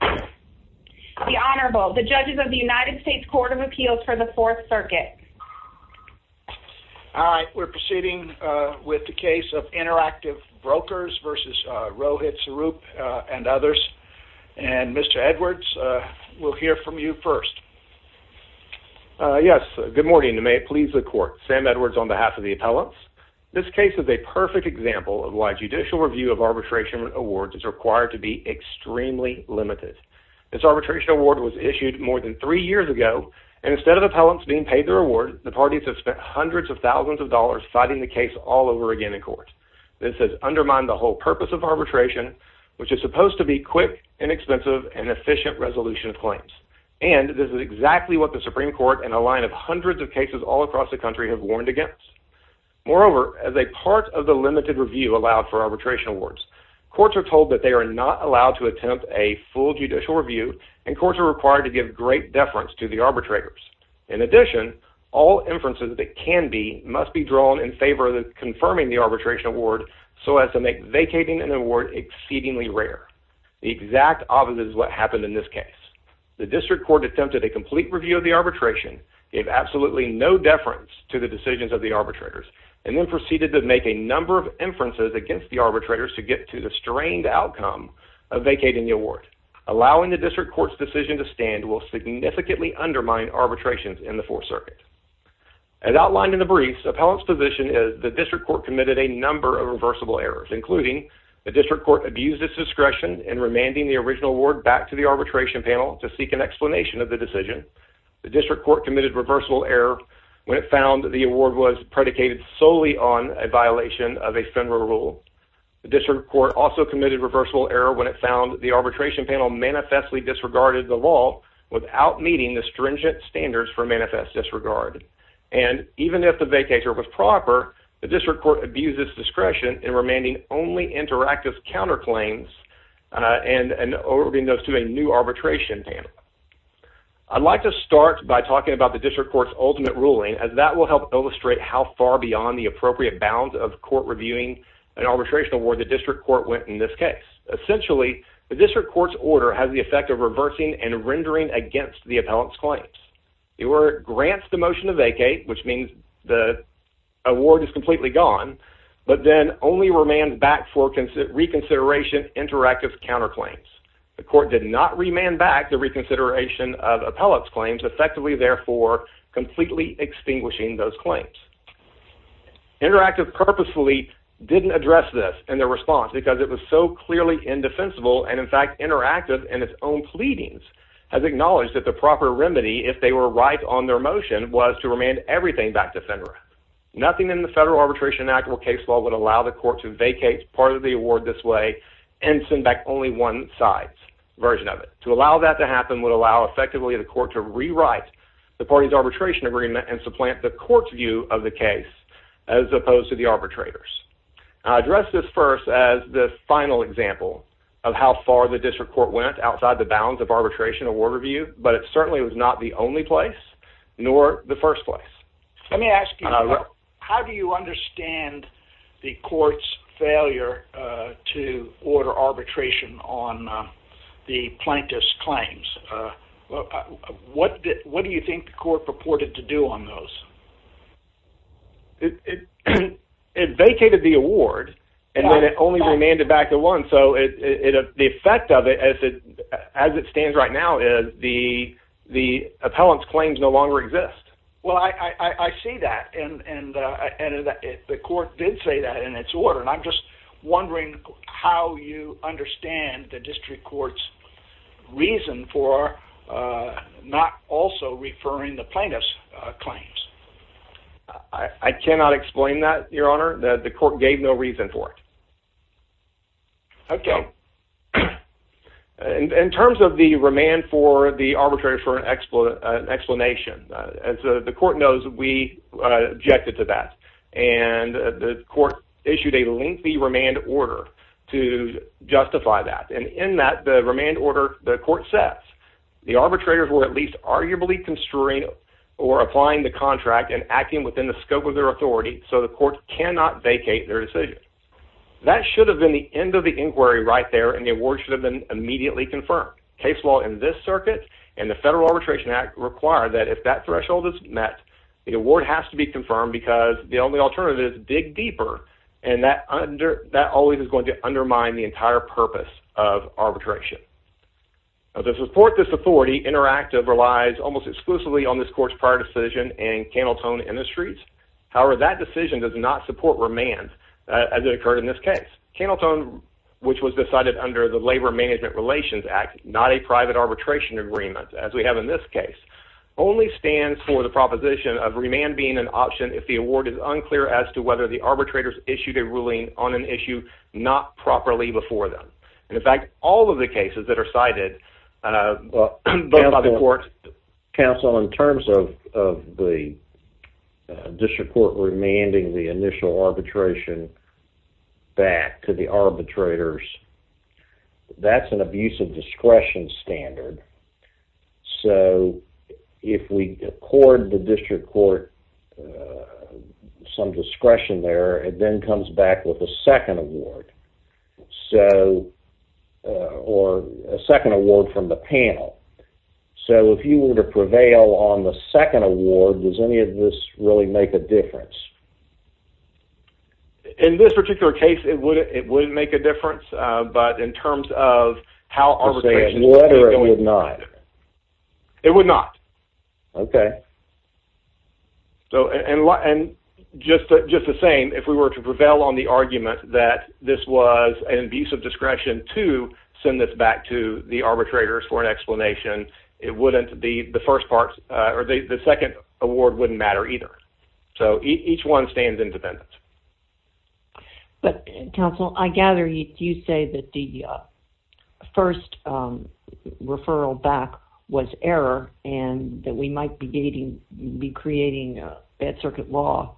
The Honorable, the Judges of the United States Court of Appeals for the Fourth Circuit. All right, we're proceeding with the case of Interactive Brokers versus Rohit Saroop and others. And Mr. Edwards, we'll hear from you first. Yes, good morning and may it please the Court. Sam Edwards on behalf of the appellants. This case is a perfect example of why judicial review of arbitration awards is required to be extremely limited. This arbitration award was issued more than three years ago, and instead of appellants being paid their award, the parties have spent hundreds of thousands of dollars fighting the case all over again in court. This has undermined the whole purpose of arbitration, which is supposed to be quick, inexpensive, and efficient resolution of claims. And this is exactly what the Supreme Court and a line of hundreds of cases all across the country have warned against. Moreover, as a part of the limited review allowed for arbitration awards, courts are told that they are not allowed to attempt a full judicial review, and courts are required to give great deference to the arbitrators. In addition, all inferences that can be must be drawn in favor of confirming the arbitration award so as to make vacating an award exceedingly rare. The exact opposite is what happened in this case. The district court attempted a complete review of the arbitration, gave absolutely no deference to the decisions of the arbitrators, and then proceeded to make a number of inferences against the arbitrators to get to the strained outcome of vacating the award. Allowing the district court's decision to stand will significantly undermine arbitrations in the Fourth Circuit. As outlined in the briefs, appellants' position is the district court committed a number of reversible errors, including the district court abused its discretion in remanding the original award back to the arbitration panel to seek an explanation of the decision. The district court committed reversible error when it found the award was predicated solely on a violation of a federal rule. The district court also committed reversible error when it found the arbitration panel manifestly disregarded the law without meeting the stringent standards for manifest disregard. And even if the vacator was proper, the district court abused its discretion in remanding only interactive counterclaims and ordering those to a new arbitration panel. I'd like to start by talking about the district court's ultimate ruling, as that will help illustrate how far beyond the appropriate bounds of court reviewing an arbitration award the district court went in this case. Essentially, the district court's order has the effect of reversing and rendering against the appellant's claims. It grants the motion to vacate, which means the award is completely gone, but then only remands back for reconsideration interactive counterclaims. The court did not remand back the reconsideration of appellant's claims, effectively, therefore, completely extinguishing those claims. Interactive purposefully didn't address this in their response because it was so clearly indefensible, and in fact, interactive in its own pleadings has acknowledged that the proper remedy, if they were right on their motion, was to remand everything back to FINRA. Nothing in the Federal Arbitration Act or case law would allow the court to vacate part of the award this way and send back only one side's version of it. To allow that to happen would allow, effectively, the court to rewrite the party's arbitration agreement and supplant the court's view of the case as opposed to the arbitrator's. I address this first as the final example of how far the district court went outside the bounds of arbitration award review, but it certainly was not the only place, nor the first place. Let me ask you, how do you understand the court's failure to order arbitration on the plaintiff's claims? What do you think the court purported to do on those? It vacated the award, and then it only remanded back the one, so the effect of it, as it stands right now, is the appellant's claims no longer exist. Well, I see that, and the court did say that in its order, and I'm just wondering how you understand the district court's reason for not also referring the plaintiff's claims. I cannot explain that, Your Honor. The court gave no reason for it. Okay. In terms of the remand for the arbitrator for an explanation, as the court knows, we objected to that, and the court issued a lengthy remand order to justify that, and in that, the remand order, the court says, the arbitrators were at least arguably constrained or applying the contract and acting within the scope of their authority, so the court cannot vacate their decision. That should have been the end of the inquiry right there, and the award should have been immediately confirmed. Case law in this circuit and the Federal Arbitration Act require that if that threshold is met, the award has to be confirmed because the only alternative is to dig deeper, and that always is going to undermine the entire purpose of arbitration. Now, to support this authority, Interactive relies almost exclusively on this court's prior decision and Candletone Industries. However, that decision does not support remand, as it occurred in this case. Candletone, which was decided under the Labor Management Relations Act, not a private arbitration agreement, as we have in this case, only stands for the proposition of remand being an option if the award is unclear as to whether the arbitrators issued a ruling on an issue not properly before them. In fact, all of the cases that are cited by the court... Counsel, in terms of the district court remanding the initial arbitration back to the arbitrators, that's an abusive discretion standard. So if we accord the district court some discretion there, it then comes back with a second award. So, or a second award from the panel. So if you were to prevail on the second award, does any of this really make a difference? In this particular case, it would make a difference, but in terms of how arbitration... Let's say a letter, it would not. It would not. Okay. So, and just the same, if we were to prevail on the argument that this was an abusive discretion to send this back to the arbitrators for an explanation, it wouldn't be the first part, or the second award wouldn't matter either. So each one stands independent. But, Counsel, I gather you say that the first referral back was error and that we might be creating a bad circuit law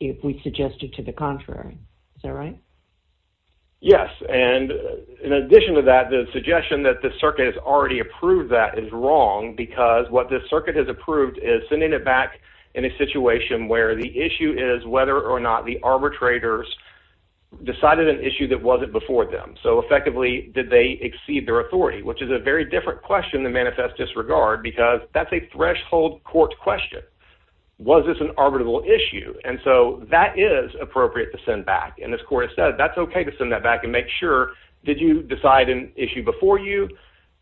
if we suggested to the contrary. Is that right? Yes, and in addition to that, the suggestion that the circuit has already approved that is wrong because what the circuit has approved is sending it back in a situation where the issue is whether or not the arbitrators decided an issue that wasn't before them. So effectively, did they exceed their authority, which is a very different question than manifest disregard because that's a threshold court question. Was this an arbitral issue? And so that is appropriate to send back. And this court has said that's okay to send that back and make sure, did you decide an issue before you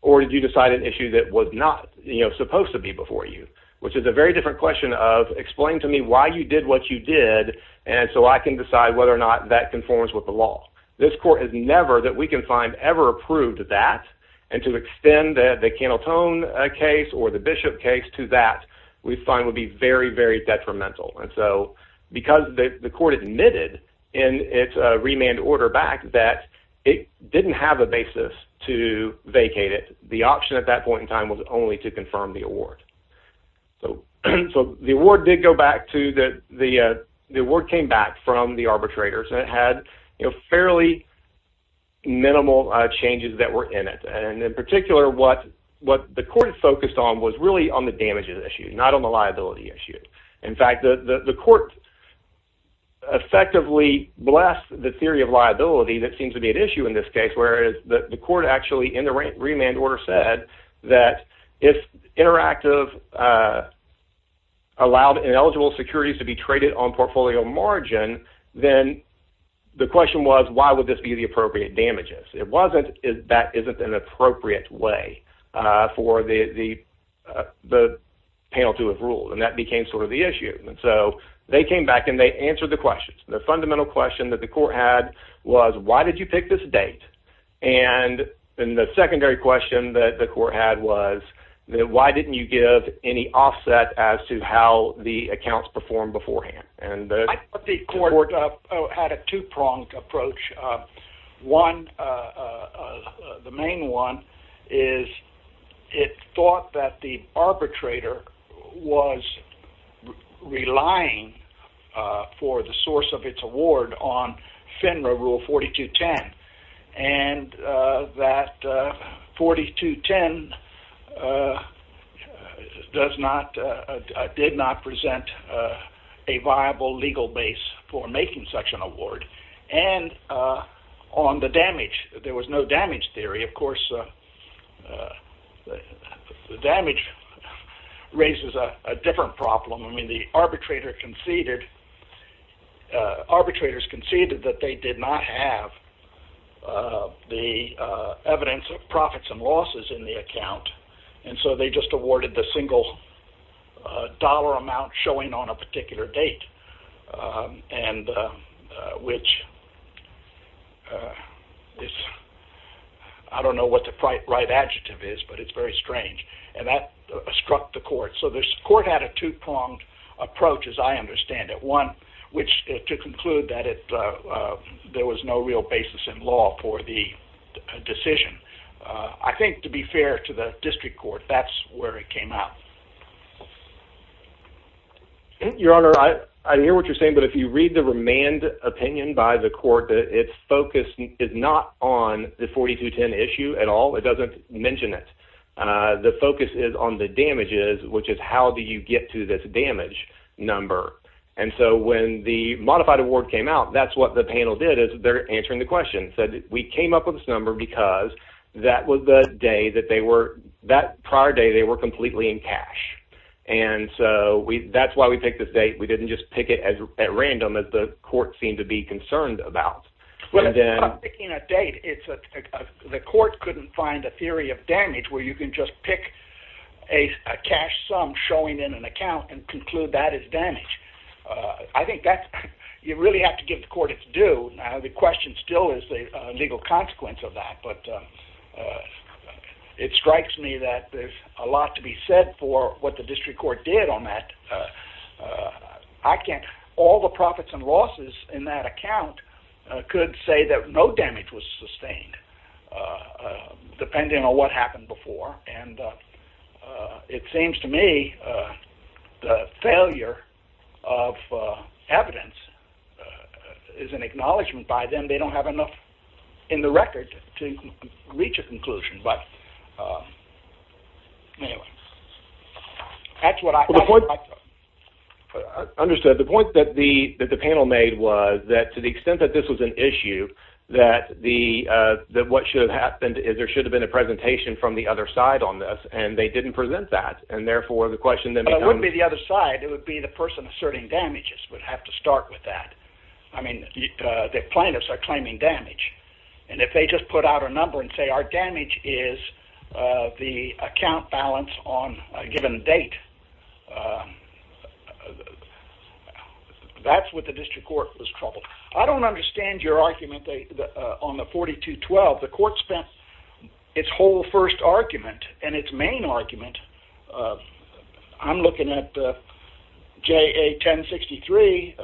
or did you decide an issue that was not supposed to be before you, which is a very different question of explain to me why you did what you did and so I can decide whether or not that conforms with the law. This court has never, that we can find, ever approved that and to extend the Cantleton case or the Bishop case to that we find would be very, very detrimental. And so because the court admitted in its remand order back that it didn't have a basis to vacate it, the option at that point in time was only to confirm the award. So the award did go back to the, the award came back from the arbitrators and it had fairly minimal changes that were in it. And in particular what the court focused on was really on the damages issue, not on the liability issue. In fact, the court effectively blessed the theory of liability that seems to be at issue in this case, whereas the court actually in the remand order said that if interactive allowed ineligible securities to be traded on portfolio margin, then the question was, why would this be the appropriate damages? It wasn't, that isn't an appropriate way for the panel to have ruled and that became sort of the issue. And so they came back and they answered the questions. The fundamental question that the court had was, why did you pick this date? And then the secondary question that the court had was, why didn't you give any offset as to how the accounts performed beforehand? I thought the court had a two-pronged approach. One, the main one is it thought that the arbitrator was relying for the source of its award on FINRA Rule 4210. And that 4210 did not present a viable legal base for making such an award. And on the damage, there was no damage theory. Of course, the damage raises a different problem. I mean, the arbitrators conceded that they did not have the evidence of profits and losses in the account. And so they just awarded the single dollar amount showing on a particular date, which I don't know what the right adjective is, but it's very strange. And that struck the court. So the court had a two-pronged approach, as I understand it. One, to conclude that there was no real basis in law for the decision. I think, to be fair to the district court, that's where it came out. Your Honor, I hear what you're saying, but if you read the remand opinion by the court, its focus is not on the 4210 issue at all. It doesn't mention it. The focus is on the damages, which is how do you get to this damage number. And so when the modified award came out, that's what the panel did is they're answering the question. They said, we came up with this number because that was the day that they were – that prior day they were completely in cash. And so that's why we picked this date. We didn't just pick it at random that the court seemed to be concerned about. Well, it's not picking a date. The court couldn't find a theory of damage where you can just pick a cash sum showing in an account and conclude that is damage. I think that's – you really have to give the court its due. Now, the question still is the legal consequence of that. But it strikes me that there's a lot to be said for what the district court did on that. I can't – all the profits and losses in that account could say that no damage was sustained, depending on what happened before. And it seems to me the failure of evidence is an acknowledgment by them. They don't have enough in the record to reach a conclusion. But anyway, that's what I thought. Understood. The point that the panel made was that to the extent that this was an issue, that what should have happened is there should have been a presentation from the other side on this, and they didn't present that. And therefore, the question then becomes – But it wouldn't be the other side. It would be the person asserting damages would have to start with that. I mean, the plaintiffs are claiming damage. And if they just put out a number and say our damage is the account balance on a given date, that's what the district court was troubled. I don't understand your argument on the 4212. The court spent its whole first argument and its main argument – I'm looking at JA 1063.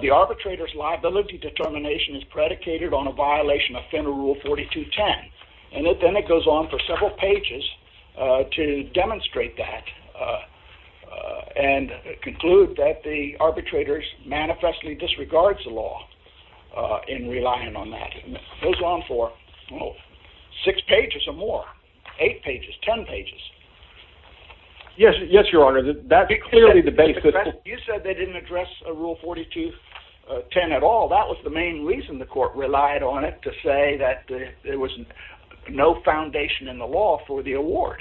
The arbitrator's liability determination is predicated on a violation of Fenner Rule 4210. And then it goes on for several pages to demonstrate that and conclude that the arbitrator manifestly disregards the law in relying on that. It goes on for six pages or more, eight pages, ten pages. Yes, Your Honor. That's clearly the basis. You said they didn't address Rule 4210 at all. That was the main reason the court relied on it, to say that there was no foundation in the law for the award.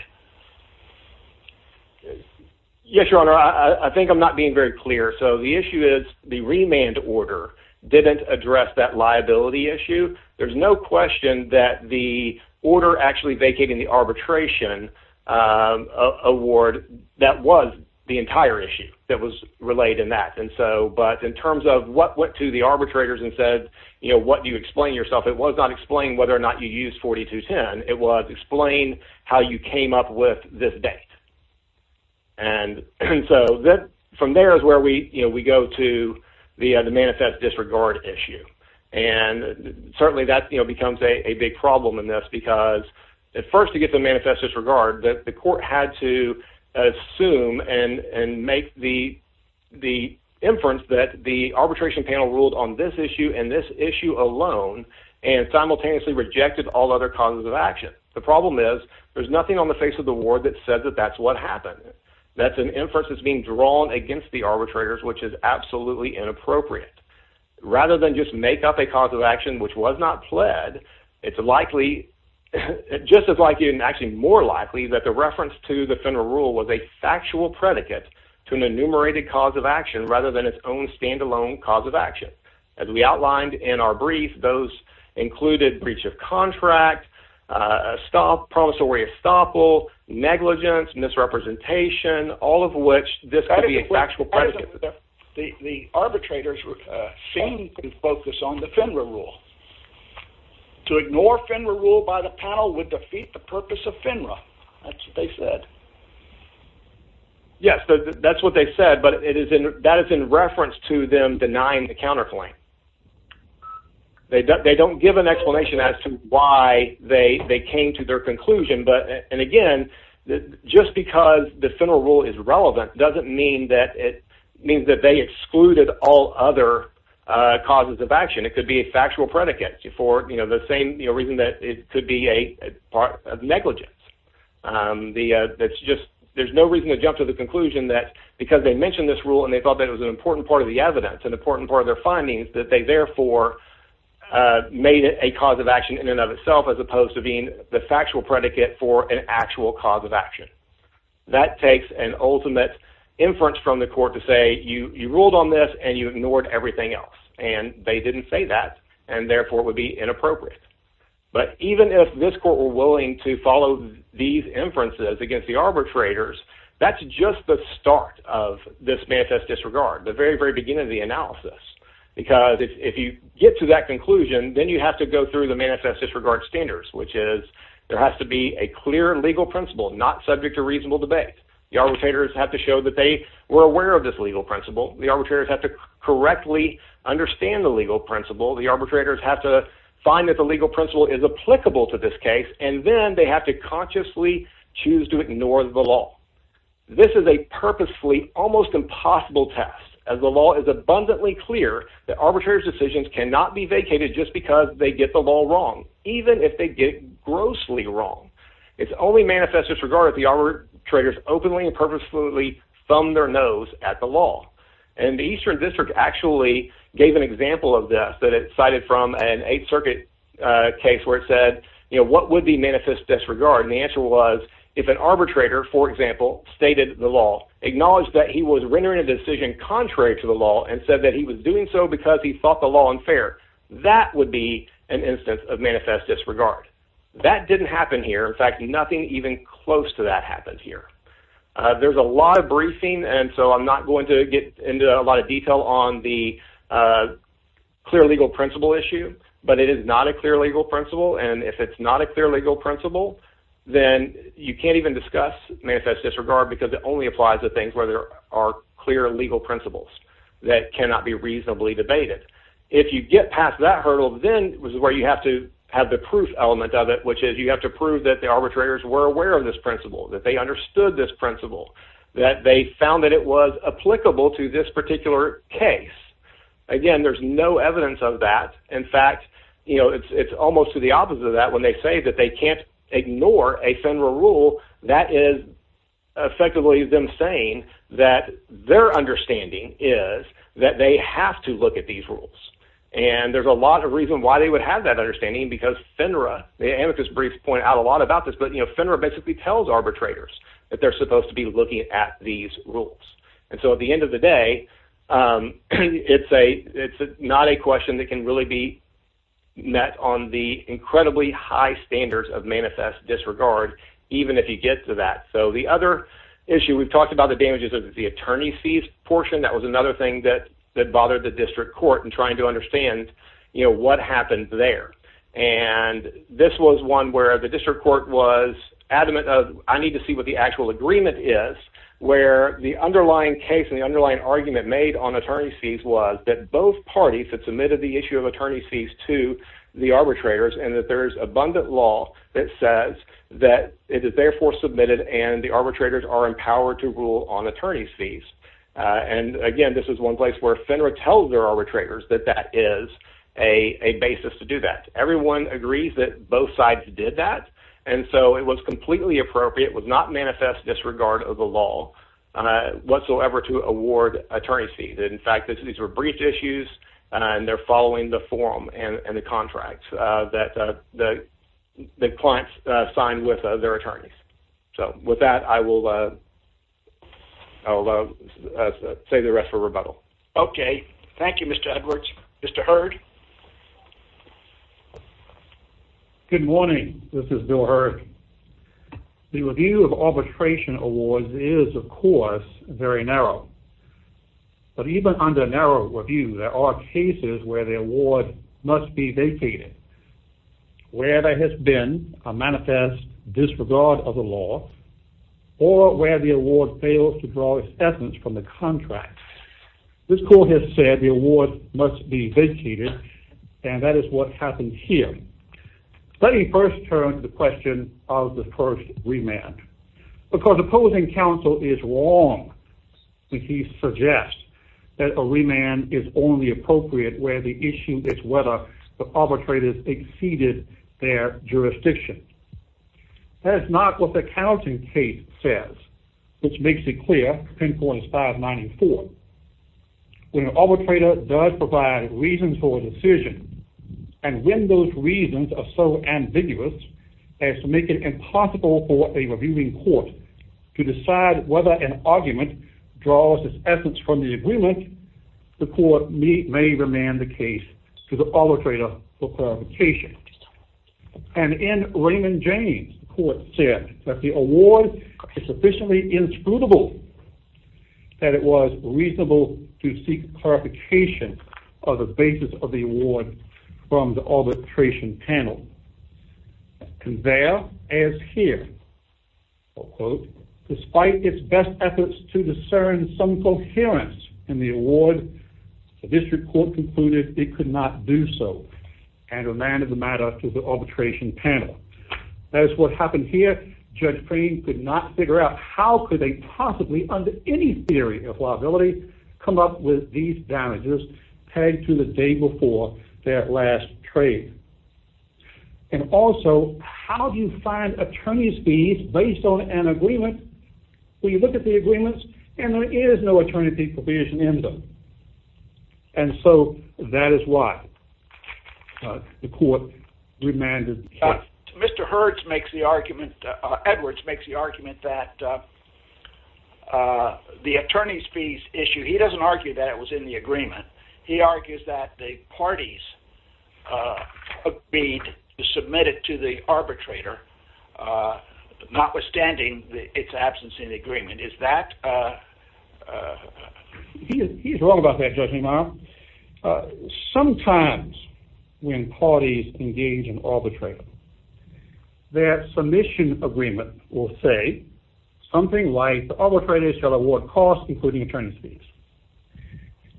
Yes, Your Honor. I think I'm not being very clear. The issue is the remand order didn't address that liability issue. There's no question that the order actually vacating the arbitration award, that was the entire issue that was relayed in that. But in terms of what went to the arbitrators and said what do you explain yourself, it was not explain whether or not you used 4210. It was explain how you came up with this date. And so from there is where we go to the manifest disregard issue. And certainly that becomes a big problem in this because at first to get the manifest disregard, the court had to assume and make the inference that the arbitration panel ruled on this issue and this issue alone and simultaneously rejected all other causes of action. The problem is there's nothing on the face of the ward that says that that's what happened. That's an inference that's being drawn against the arbitrators, which is absolutely inappropriate. Rather than just make up a cause of action which was not pled, it's likely, just as likely and actually more likely that the reference to the federal rule was a factual predicate to an enumerated cause of action rather than its own standalone cause of action. As we outlined in our brief, those included breach of contract, promissory estoppel, negligence, misrepresentation, all of which this could be a factual predicate. The arbitrators seem to focus on the FINRA rule. To ignore FINRA rule by the panel would defeat the purpose of FINRA. That's what they said. Yes, that's what they said, but that is in reference to them denying the counterclaim. They don't give an explanation as to why they came to their conclusion. Again, just because the FINRA rule is relevant doesn't mean that they excluded all other causes of action. It could be a factual predicate for the same reason that it could be a part of negligence. There's no reason to jump to the conclusion that because they mentioned this rule and they thought that it was an important part of the evidence, an important part of their findings, that they therefore made it a cause of action in and of itself as opposed to being the factual predicate for an actual cause of action. That takes an ultimate inference from the court to say, you ruled on this and you ignored everything else, and they didn't say that, and therefore it would be inappropriate. But even if this court were willing to follow these inferences against the arbitrators, that's just the start of this manifest disregard, the very, very beginning of the analysis. Because if you get to that conclusion, then you have to go through the manifest disregard standards, which is there has to be a clear legal principle not subject to reasonable debate. The arbitrators have to show that they were aware of this legal principle. The arbitrators have to correctly understand the legal principle. The arbitrators have to find that the legal principle is applicable to this case, and then they have to consciously choose to ignore the law. This is a purposefully almost impossible test, as the law is abundantly clear that arbitrators' decisions cannot be vacated just because they get the law wrong, even if they get it grossly wrong. It's only manifest disregard if the arbitrators openly and purposefully thumb their nose at the law. And the Eastern District actually gave an example of this that it cited from an Eighth Circuit case where it said, what would be manifest disregard? And the answer was, if an arbitrator, for example, stated the law, acknowledged that he was rendering a decision contrary to the law and said that he was doing so because he thought the law unfair, that would be an instance of manifest disregard. That didn't happen here. In fact, nothing even close to that happened here. There's a lot of briefing, and so I'm not going to get into a lot of detail on the clear legal principle issue, but it is not a clear legal principle. And if it's not a clear legal principle, then you can't even discuss manifest disregard because it only applies to things where there are clear legal principles that cannot be reasonably debated. If you get past that hurdle, then this is where you have to have the proof element of it, which is you have to prove that the arbitrators were aware of this principle, that they understood this principle, that they found that it was applicable to this particular case. Again, there's no evidence of that. In fact, it's almost to the opposite of that. When they say that they can't ignore a FINRA rule, that is effectively them saying that their understanding is that they have to look at these rules. And there's a lot of reason why they would have that understanding because FINRA, and Amicus Briefs point out a lot about this, but FINRA basically tells arbitrators that they're supposed to be looking at these rules. And so at the end of the day, it's not a question that can really be met on the incredibly high standards of manifest disregard, even if you get to that. So the other issue we've talked about, the damages of the attorney's fees portion, that was another thing that bothered the district court in trying to understand what happened there. And this was one where the district court was adamant of, I need to see what the actual agreement is, where the underlying case and the underlying argument made on attorney's fees was that both parties had submitted the issue of attorney's fees to the arbitrators and that there is abundant law that says that it is therefore submitted and the arbitrators are empowered to rule on attorney's fees. And again, this is one place where FINRA tells their arbitrators that that is a basis to do that. Everyone agrees that both sides did that, and so it was completely appropriate. It would not manifest disregard of the law whatsoever to award attorney's fees. In fact, these were brief issues, and they're following the form and the contract that the clients signed with their attorneys. So with that, I will save the rest for rebuttal. Okay. Thank you, Mr. Edwards. Mr. Hurd? Good morning. This is Bill Hurd. The review of arbitration awards is, of course, very narrow. But even under narrow review, there are cases where the award must be vacated, where there has been a manifest disregard of the law, or where the award fails to draw acceptance from the contract. This court has said the award must be vacated and that is what happened here. Let me first turn to the question of the first remand. Because opposing counsel is wrong when he suggests that a remand is only appropriate where the issue is whether the arbitrator has exceeded their jurisdiction. That is not what the counting case says, which makes it clear, 10.594. When an arbitrator does provide reasons for a decision and when those reasons are so ambiguous as to make it impossible for a reviewing court to decide whether an argument draws its essence from the agreement, the court may remand the case to the arbitrator for clarification. And in Raymond James, the court said that the award is sufficiently inscrutable that it was reasonable to seek clarification of the basis of the award from the arbitration panel. And there, as here, despite its best efforts to discern some coherence in the award, the district court concluded it could not do so and remanded the matter to the arbitration panel. That is what happened here. Judge Crane could not figure out how could they possibly, under any theory of liability, come up with these damages tagged to the day before that last trade. And also, how do you find attorney's fees based on an agreement where you look at the agreements and there is no attorney fee provision in them? And so that is why the court remanded the case. Mr. Hurts makes the argument... Edwards makes the argument that the attorney's fees issue... He doesn't argue that it was in the agreement. He argues that the parties agreed to submit it to the arbitrator, notwithstanding its absence in the agreement. Is that... He is wrong about that, Judge Neumann. Sometimes when parties engage an arbitrator, their submission agreement will say something like, the arbitrator shall award costs including attorney's fees.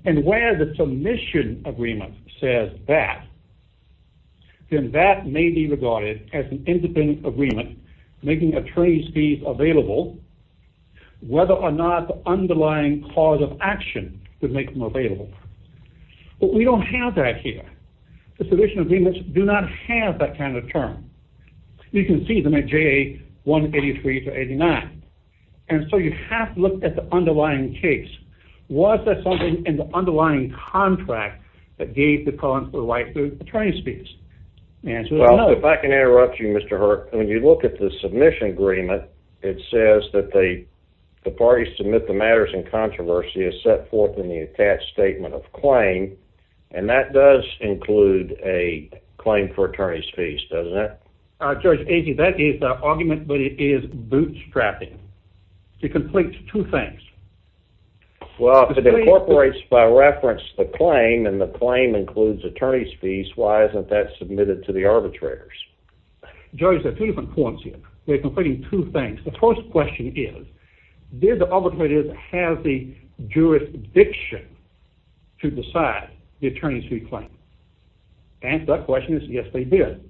And where the submission agreement says that, then that may be regarded as an independent agreement making attorney's fees available, whether or not the underlying cause of action would make them available. But we don't have that here. The submission agreements do not have that kind of term. You can see them at JA 183 to 89. And so you have to look at the underlying case. Was there something in the underlying contract that gave the cause for the right to attorney's fees? Well, if I can interrupt you, Mr. Hurts, when you look at the submission agreement, it says that the parties submit the matters in controversy as set forth in the attached statement of claim. And that does include a claim for attorney's fees, doesn't it? Judge, that is the argument, but it is bootstrapping. It completes two things. Well, if it incorporates by reference the claim, and the claim includes attorney's fees, why isn't that submitted to the arbitrators? Judge, there are two different points here. They're completing two things. The first question is, did the arbitrators have the jurisdiction to decide the attorney's fee claim? The answer to that question is, yes, they did.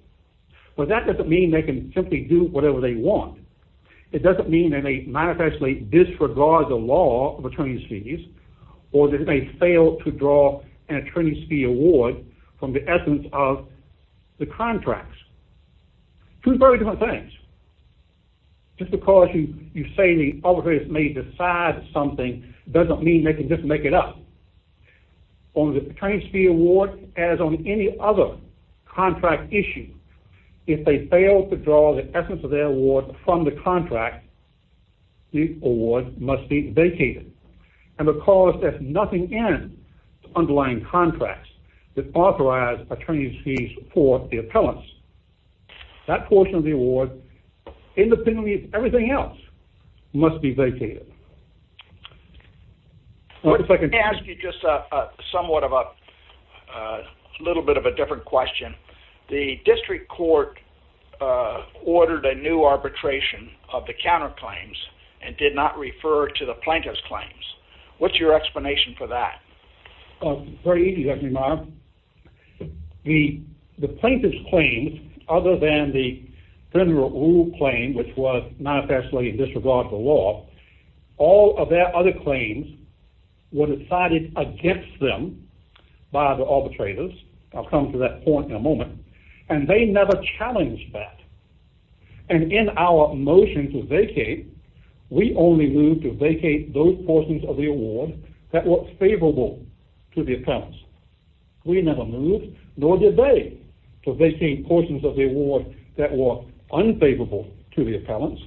But that doesn't mean they can simply do whatever they want. It doesn't mean that they manifestly disregard the law of attorney's fees, or that they failed to draw an attorney's fee award from the essence of the contracts. Two very different things. Just because you say the arbitrators may decide something doesn't mean they can just make it up. On the attorney's fee award, as on any other contract issue, if they fail to draw the essence of their award from the contract, the award must be vacated. And because there's nothing in the underlying contracts that authorize attorney's fees for the appellants, that portion of the award, independently of everything else, must be vacated. Let me ask you just somewhat of a... a little bit of a different question. The district court ordered a new arbitration of the counterclaims and did not refer to the plaintiff's claims. What's your explanation for that? Very easy, Dr. Amaya. The plaintiff's claims, other than the general rule claim, which was manifestly in disregard for law, all of their other claims were decided against them by the arbitrators. I'll come to that point in a moment. And they never challenged that. And in our motion to vacate, we only moved to vacate those portions of the award that were favorable to the appellants. We never moved, nor did they, to vacate portions of the award that were unfavorable to the appellants.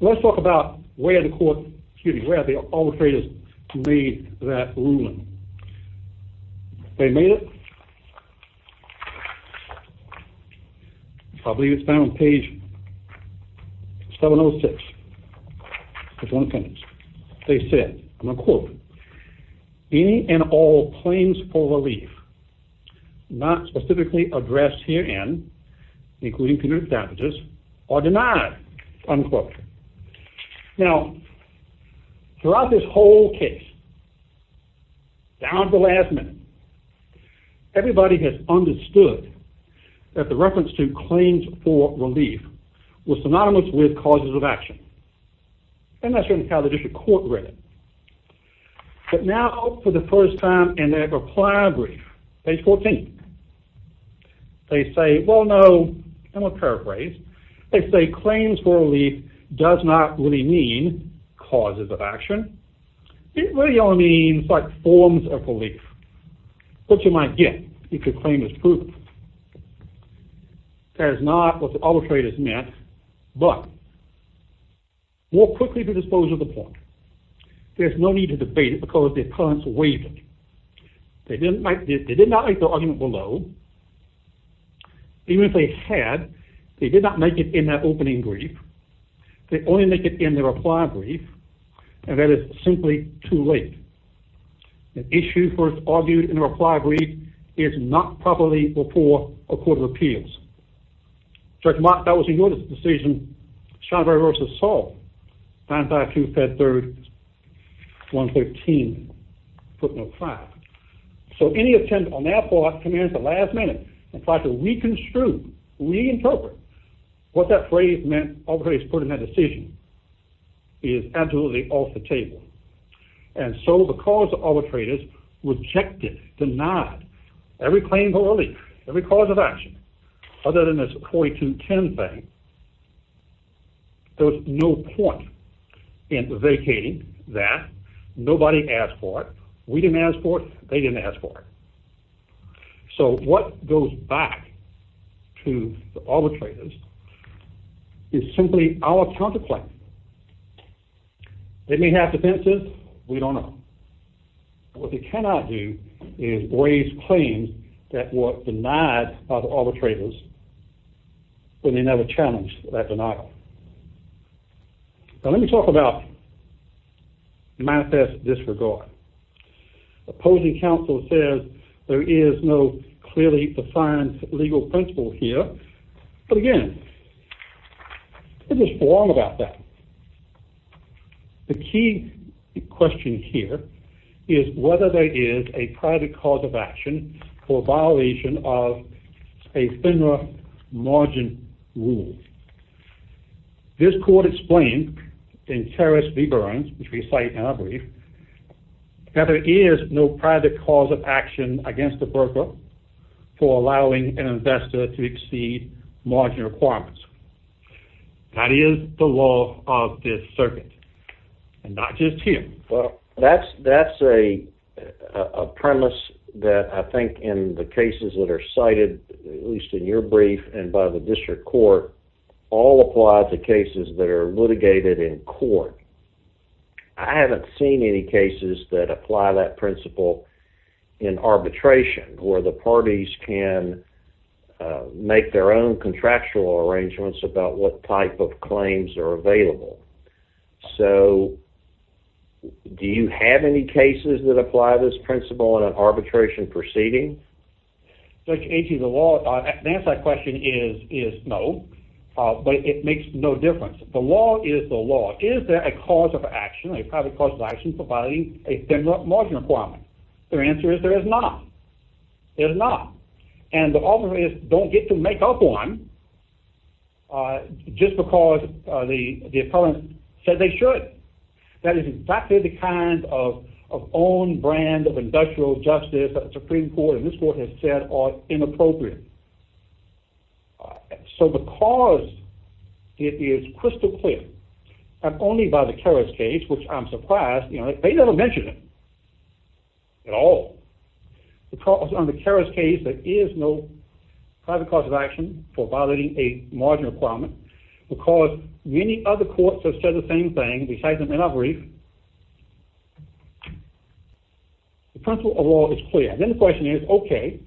Let's talk about where the court... excuse me, where the arbitrators made that ruling. They made it... I believe it's down on page 706. It's on the page. They said, and I'll quote, any and all claims for relief not specifically addressed herein, including punitive damages, are denied, unquote. Now, throughout this whole case, down to the last minute, everybody has understood that the reference to claims for relief was synonymous with causes of action. And that's certainly how the district court read it. But now, for the first time in their reply brief, page 14, they say, well, no, and we'll paraphrase. They say claims for relief does not really mean causes of action. It really only means, like, forms of relief. What you might get if your claim is proven. That is not what the arbitrators meant. But more quickly to dispose of the point, there's no need to debate it because the opponents waived it. They did not make their argument below. Even if they had, they did not make it in that opening brief. They only make it in their reply brief, and that is simply too late. An issue first argued in a reply brief is not properly before a court of appeals. So any attempt on their part to come in at the last minute and try to reconstruct, reinterpret what that phrase meant, arbitrators put in that decision, is absolutely off the table. And so because the arbitrators rejected, denied every claim for relief, every cause of action, other than this 4210 thing, there was no point in vacating that. Nobody asked for it. We didn't ask for it. They didn't ask for it. So what goes back to the arbitrators is simply our counterclaim. Did we have defenses? We don't know. What they cannot do is raise claims that were denied by the arbitrators when they never challenged that denial. Now let me talk about the manifest disregard. Opposing counsel says there is no clearly defined legal principle here, but again, it is wrong about that. The key question here is whether there is a private cause of action for violation of a FINRA margin rule. This court explained in Terrace v. Burns, which we cite in our brief, that there is no private cause of action against the broker for allowing an investor to exceed margin requirements. That is the law of this circuit, and not just here. That's a premise that I think in the cases that are cited, at least in your brief and by the district court, all apply to cases that are litigated in court. I haven't seen any cases that apply that principle in arbitration, where the parties can make their own contractual arrangements about what type of claims are available. So, do you have any cases that apply this principle in an arbitration proceeding? Judge, the answer to that question is no, but it makes no difference. The law is the law. Is there a private cause of action for violating a FINRA margin requirement? The answer is there is not. There is not. And the arbitrators don't get to make up one just because the appellant said they should. That is exactly the kind of own brand of industrial justice that the Supreme Court and this court have said are inappropriate. So, the cause is crystal clear, not only by the Keras case, which I'm surprised, you know, they never mention it at all. The cause on the Keras case, there is no private cause of action for violating a margin requirement because many other courts have said the same thing, besides them in our brief. The principle of law is clear. Then the question is, okay,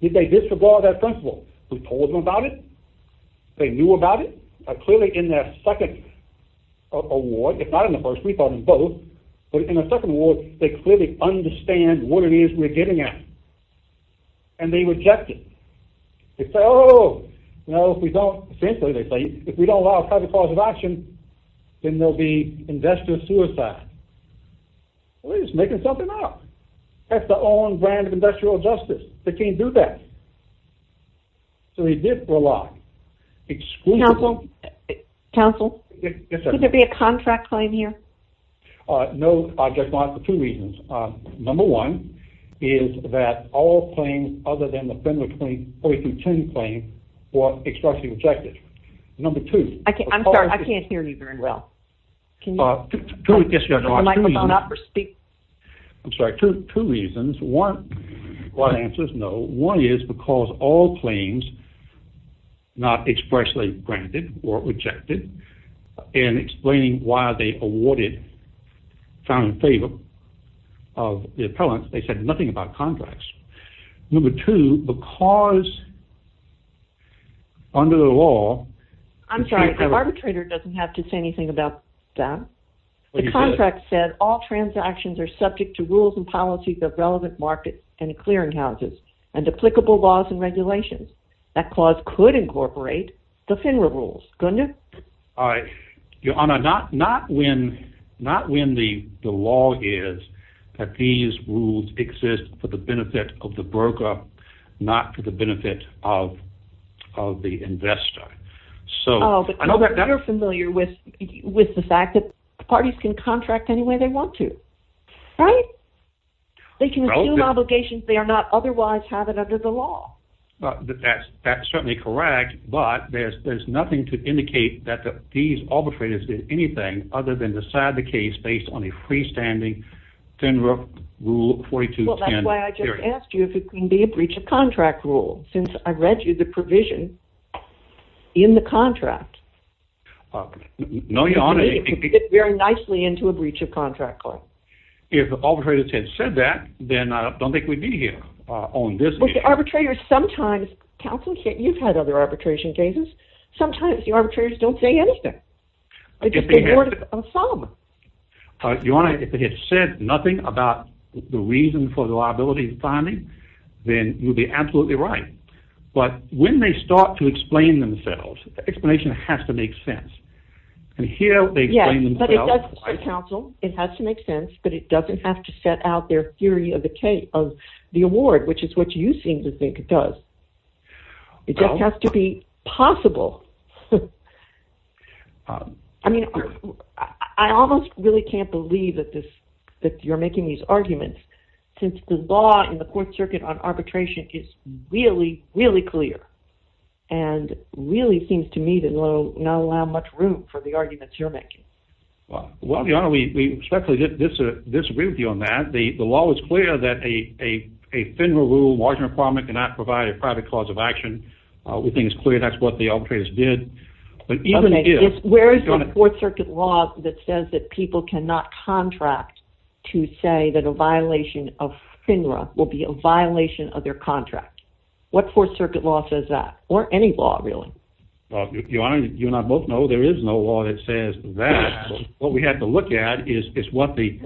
did they disregard that principle? We told them about it. They knew about it. Clearly in their second award, if not in the first, we thought in both, but in the second award, they clearly understand what it is that we're getting at. And they reject it. They say, oh, no, if we don't, essentially they say, if we don't allow private cause of action, then there'll be investor suicide. Well, they're just making something up. That's the own brand of industrial justice. They can't do that. So, they did rely. Exclusively. Counsel? Yes, ma'am. Could there be a contract claim here? No, Judge Blount, for two reasons. Number one is that all claims other than the Federal Claims OECD claim were expressly rejected. Number two. I'm sorry, I can't hear you very well. Can you put the microphone up or speak? I'm sorry, two reasons. One, a lot of answers, no. One is because all claims not expressly granted or rejected and explaining why they awarded found in favor of the appellant. They said nothing about contracts. Number two, the cause under the law. I'm sorry. The arbitrator doesn't have to say anything about that. The contract said all transactions are subject to rules and policies of relevant markets and clearing houses and applicable laws and regulations. That clause could incorporate the FINRA rules, couldn't it? Your Honor, not when the law is that these rules exist for the benefit of the broker not for the benefit of the investor. Oh, but you're familiar with the fact that parties can contract any way they want to, right? They can assume obligations they are not otherwise having under the law. That's certainly correct, but there's nothing to indicate that these arbitrators did anything other than decide the case based on a freestanding FINRA rule 4210. Well, that's why I just asked you if it can be a breach of contract rule since I read you the provision in the contract. No, Your Honor. It fits very nicely into a breach of contract clause. If the arbitrators had said that, then I don't think we'd be here on this issue. But the arbitrators sometimes, counsel, you've had other arbitration cases, sometimes the arbitrators don't say anything. They just award a sum. Your Honor, if they had said nothing about the reason for the liability of filing, then you'd be absolutely right. But when they start to explain themselves, the explanation has to make sense. And here they explain themselves. Counsel, it has to make sense, but it doesn't have to set out their theory of the award, which is what you seem to think it does. It just has to be possible. I mean, I almost really can't believe that you're making these arguments since the law in the court circuit on arbitration is really, really clear and really seems to me to not allow much room for the arguments you're making. Well, Your Honor, we respectfully disagree with you on that. The law is clear that a FINRA rule, margin requirement cannot provide a private cause of action. We think it's clear that's what the arbitrators did. Where is the court circuit law that says that people cannot contract to say that a violation of FINRA will be a violation of their contract? What court circuit law says that? Or any law, really? Your Honor, you and I both know there is no law that says that. What we have to look at is what the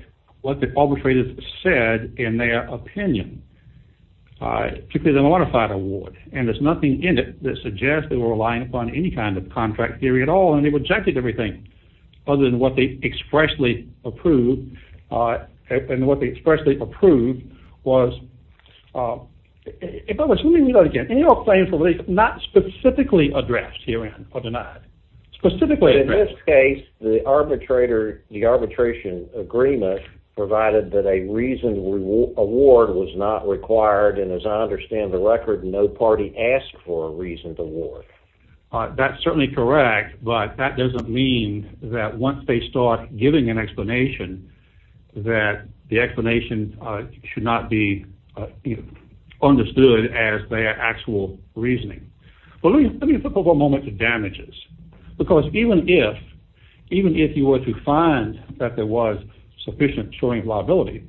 arbitrators said in their opinion. Particularly the modified award. And there's nothing in it that suggests they were relying upon any kind of contract theory at all and they rejected everything other than what they expressly approved. And what they expressly approved was... If I was... Let me read that again. In your claim for release, not specifically addressed herein or denied. Specifically addressed. In that case, the arbitration agreement provided that a reasoned award was not required. And as I understand the record, no party asked for a reasoned award. That's certainly correct. But that doesn't mean that once they start giving an explanation, that the explanation should not be understood as their actual reasoning. But let me flip over a moment to damages. Because even if you were to find that there was sufficient assuring liability,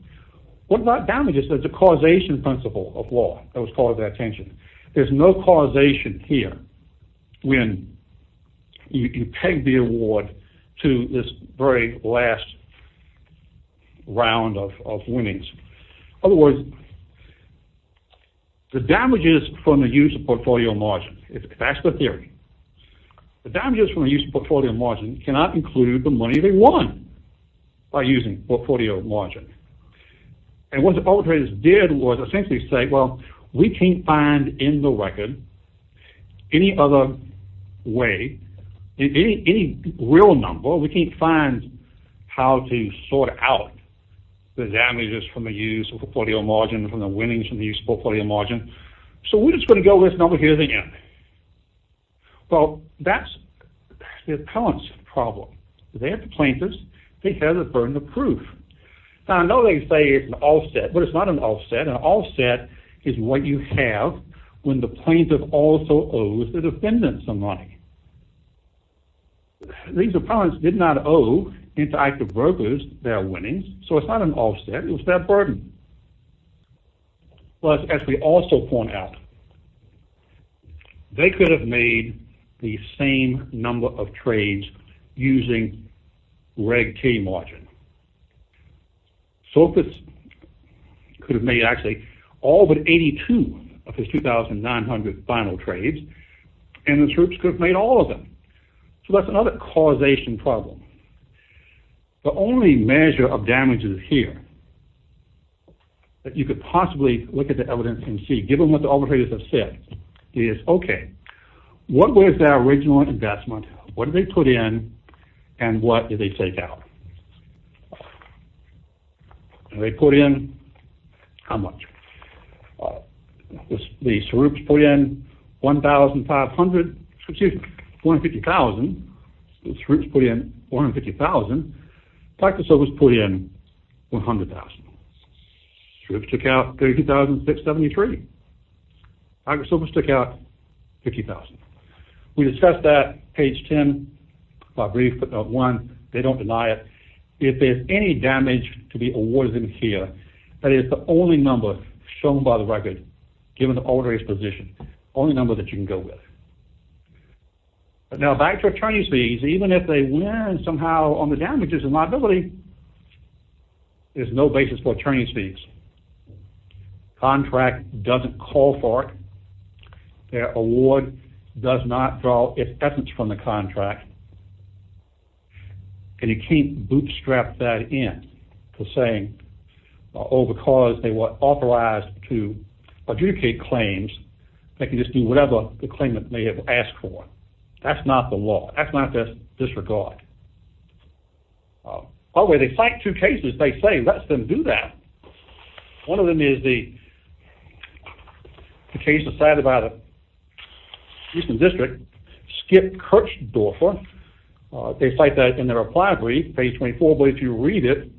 what about damages as a causation principle of law that was called to their attention? There's no causation here when you peg the award to this very last round of winnings. In other words, the damages from the use of portfolio margins, that's the theory. The damages from the use of portfolio margins cannot include the money they won by using portfolio margins. And what the arbitrators did was essentially say, well, we can't find in the record any other way, any real number. We can't find how to sort out the damages from the use of portfolio margins and the winnings from the use of portfolio margins. So we're just going to go listen over here again. Well, that's the appellant's problem. They're the plaintiff's. They have the burden of proof. Now, I know they say it's an offset, but it's not an offset. An offset is what you have when the plaintiff also owes the defendant some money. These appellants did not owe interactive brokers their winnings, so it's not an offset. It was their burden. Plus, as we also point out, they could have made the same number of trades using Reg T margin. Sofits could have made, actually, all but 82 of his 2,900 final trades, and the troops could have made all of them. So that's another causation problem. The only measure of damages here that you could possibly look at the evidence and see, given what the arbitrators have said, is, okay, what was their original investment, what did they put in, and what did they take out? They put in how much? The troops put in 1,500. Excuse me, 150,000. The troops put in 150,000. Back to Sofits put in 100,000. Troops took out 30,673. Back to Sofits took out 50,000. We discussed that, page 10, by brief, but not one. They don't deny it. If there's any damage to be awarded in here, that is the only number shown by the record, given the arbitrator's position, only number that you can go with. Now, back to attorney's fees, even if they win somehow on the damages, the liability is no basis for attorney's fees. Contract doesn't call for it. Their award does not draw its essence from the contract, and you can't bootstrap that in to saying, oh, because they were authorized to adjudicate claims, they can just do whatever the claimant may have asked for. That's not the law. That's not their disregard. By the way, they cite two cases they say lets them do that. One of them is the case decided by the Eastern District, Skip Kirchdorfer. They cite that in their reply brief, page 24, but if you read it,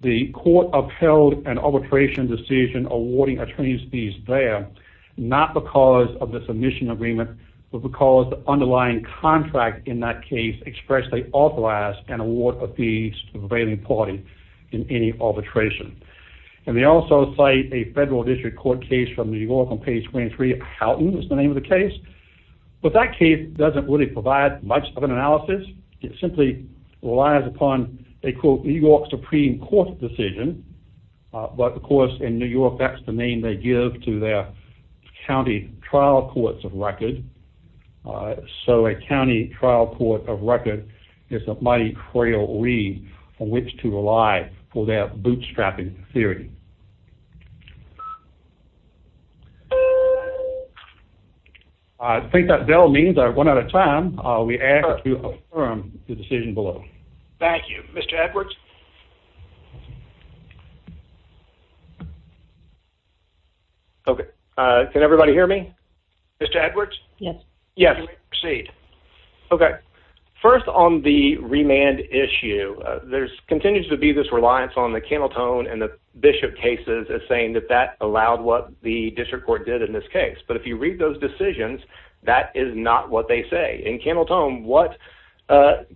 the court upheld an arbitration decision awarding attorney's fees there, not because of the submission agreement, but because the underlying contract in that case expressly authorized an award of fees to the prevailing party in any arbitration. And they also cite a federal district court case from New York on page 23, Houghton is the name of the case. But that case doesn't really provide much of an analysis. It simply relies upon a, quote, New York Supreme Court decision. But, of course, in New York, that's the name they give to their county trial courts of record. So a county trial court of record is a mighty trail read on which to rely for their bootstrapping theory. I think that bell means I've run out of time. We ask that you affirm the decision below. Thank you. Mr. Edwards? OK. Can everybody hear me? Mr. Edwards? Yes. Yes. Proceed. OK. First, on the remand issue, there continues to be this reliance on the Camel Tone and the Bishop cases as saying that that allowed what the district court did in this case. But if you read those decisions, that is not what they say. In Camel Tone, what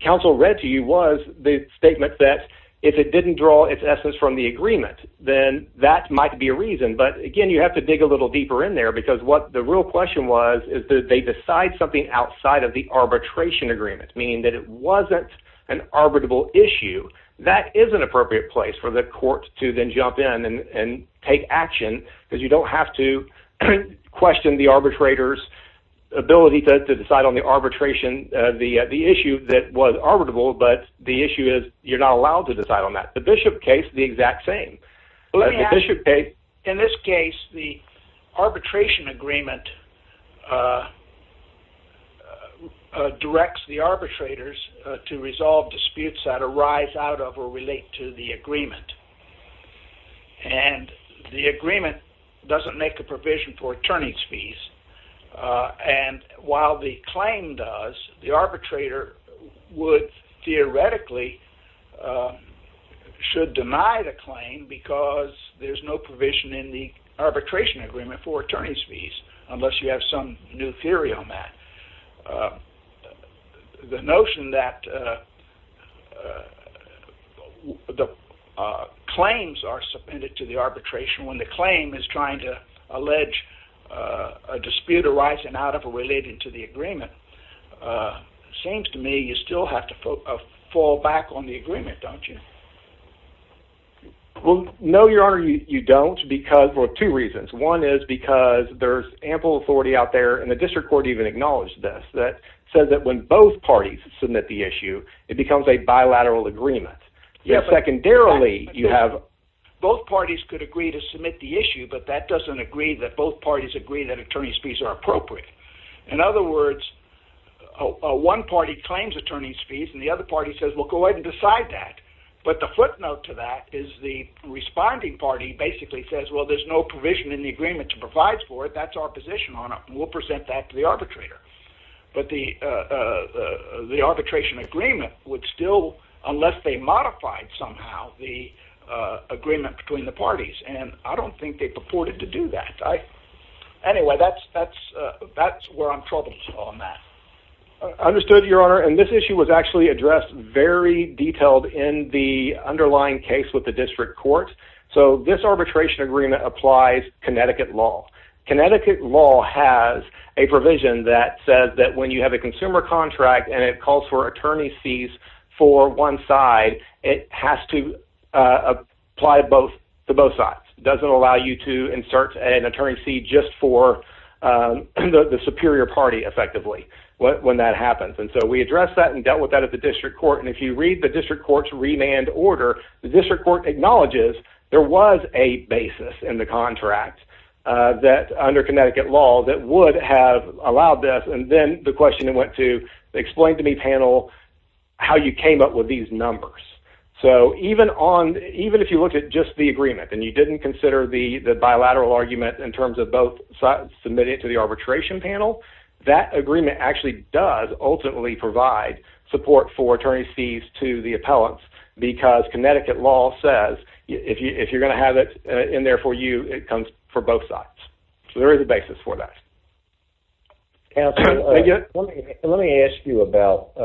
counsel read to you was the statement that if it didn't draw its essence from the agreement, then that might be a reason. But, again, you have to dig a little deeper in there because what the real question was is that they decide something outside of the arbitration agreement, meaning that it wasn't an arbitrable issue. That is an appropriate place for the court to then jump in and take action because you don't have to question the arbitrator's ability to decide on the arbitration, the issue that was arbitrable. But the issue is you're not allowed to decide on that. The Bishop case is the exact same. In this case, the arbitration agreement directs the arbitrators to resolve disputes that arise out of or relate to the agreement. And the agreement doesn't make a provision for attorneys' fees. And while the claim does, the arbitrator would theoretically should deny the claim because there's no provision in the arbitration agreement for attorneys' fees unless you have some new theory on that. The notion that the claims are submitted to the arbitration when the claim is trying to allege a dispute arising out of or relating to the agreement, it seems to me you still have to fall back on the agreement, don't you? No, Your Honor, you don't for two reasons. One is because there's ample authority out there, and the district court even acknowledged this, that says that when both parties submit the issue, it becomes a bilateral agreement. Secondarily, you have... Both parties could agree to submit the issue, but that doesn't agree that both parties agree that attorneys' fees are appropriate. In other words, one party claims attorneys' fees and the other party says, well, go ahead and decide that. But the footnote to that is the responding party basically says, well, there's no provision in the agreement to provide for it, that's our position on it, and we'll present that to the arbitrator. But the arbitration agreement would still, unless they modified somehow the agreement between the parties, and I don't think they purported to do that. Anyway, that's where I'm troubled on that. Understood, Your Honor. And this issue was actually addressed very detailed in the underlying case with the district court. So this arbitration agreement applies Connecticut law. Connecticut law has a provision that says that when you have a consumer contract and it calls for attorney's fees for one side, it has to apply to both sides. Does it allow you to insert an attorney's fee just for the superior party effectively when that happens? And so we addressed that and dealt with that at the district court, and if you read the district court's remand order, the district court acknowledges there was a basis in the contract under Connecticut law that would have allowed this, and then the question went to, explain to me, panel, how you came up with these numbers. So even if you looked at just the agreement and you didn't consider the bilateral argument in terms of both sides submitted to the arbitration panel, that agreement actually does ultimately provide support for attorney's fees to the appellants because Connecticut law says if you're going to have it in there for you, it comes for both sides. So there is a basis for that. Counselor, let me ask you about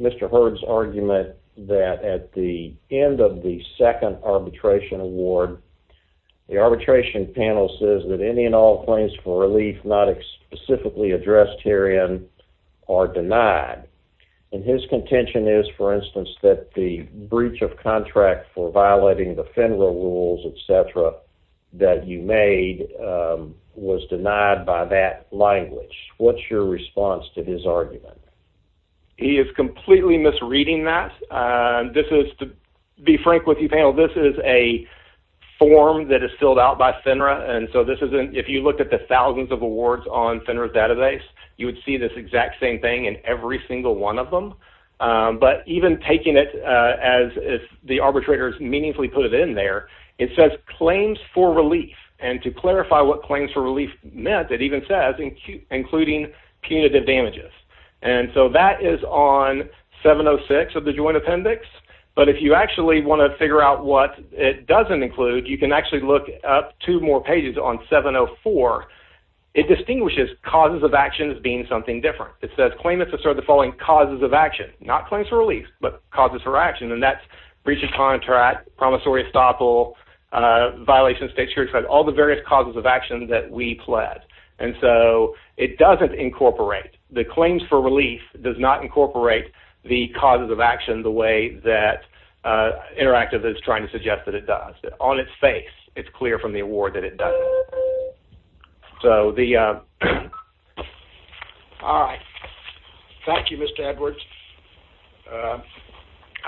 Mr. Hurd's argument that at the end of the second arbitration award, the arbitration panel says that any and all claims for relief not specifically addressed herein are denied, and his contention is, for instance, that the breach of contract for violating the FINRA rules, et cetera, that you made was denied by that language. What's your response to his argument? He is completely misreading that. To be frank with you, panel, this is a form that is filled out by FINRA, and so if you looked at the thousands of awards on FINRA's database, you would see this exact same thing in every single one of them, but even taking it as if the arbitrators meaningfully put it in there, it says claims for relief, and to clarify what claims for relief meant, it even says including punitive damages, and so that is on 706 of the Joint Appendix, but if you actually want to figure out what it doesn't include, you can actually look up two more pages on 704. It distinguishes causes of action as being something different. It says claimants assert the following causes of action, not claims for relief, but causes for action, and that's breach of contract, promissory estoppel, violation of state security, all the various causes of action that we pled, and so it doesn't incorporate. The claims for relief does not incorporate the causes of action the way that Interactive is trying to suggest that it does. On its face, it's clear from the award that it doesn't. All right. Thank you, Mr. Edwards.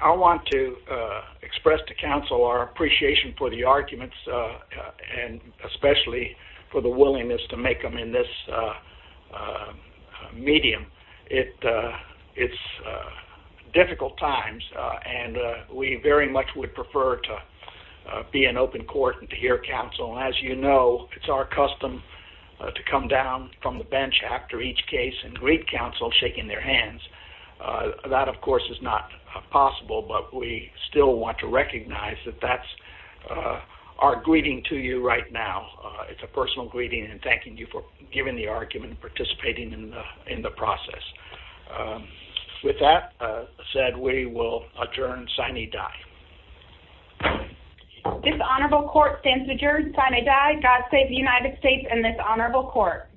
I want to express to counsel our appreciation for the arguments and especially for the willingness to make them in this medium. It's difficult times, and we very much would prefer to be in open court and to hear counsel, and as you know, it's our custom to come down from the bench after each case and greet counsel shaking their hands. That, of course, is not possible, but we still want to recognize that that's our greeting to you right now. It's a personal greeting, and thanking you for giving the argument and participating in the process. With that said, we will adjourn sine die. This honorable court stands adjourned sine die. God save the United States and this honorable court.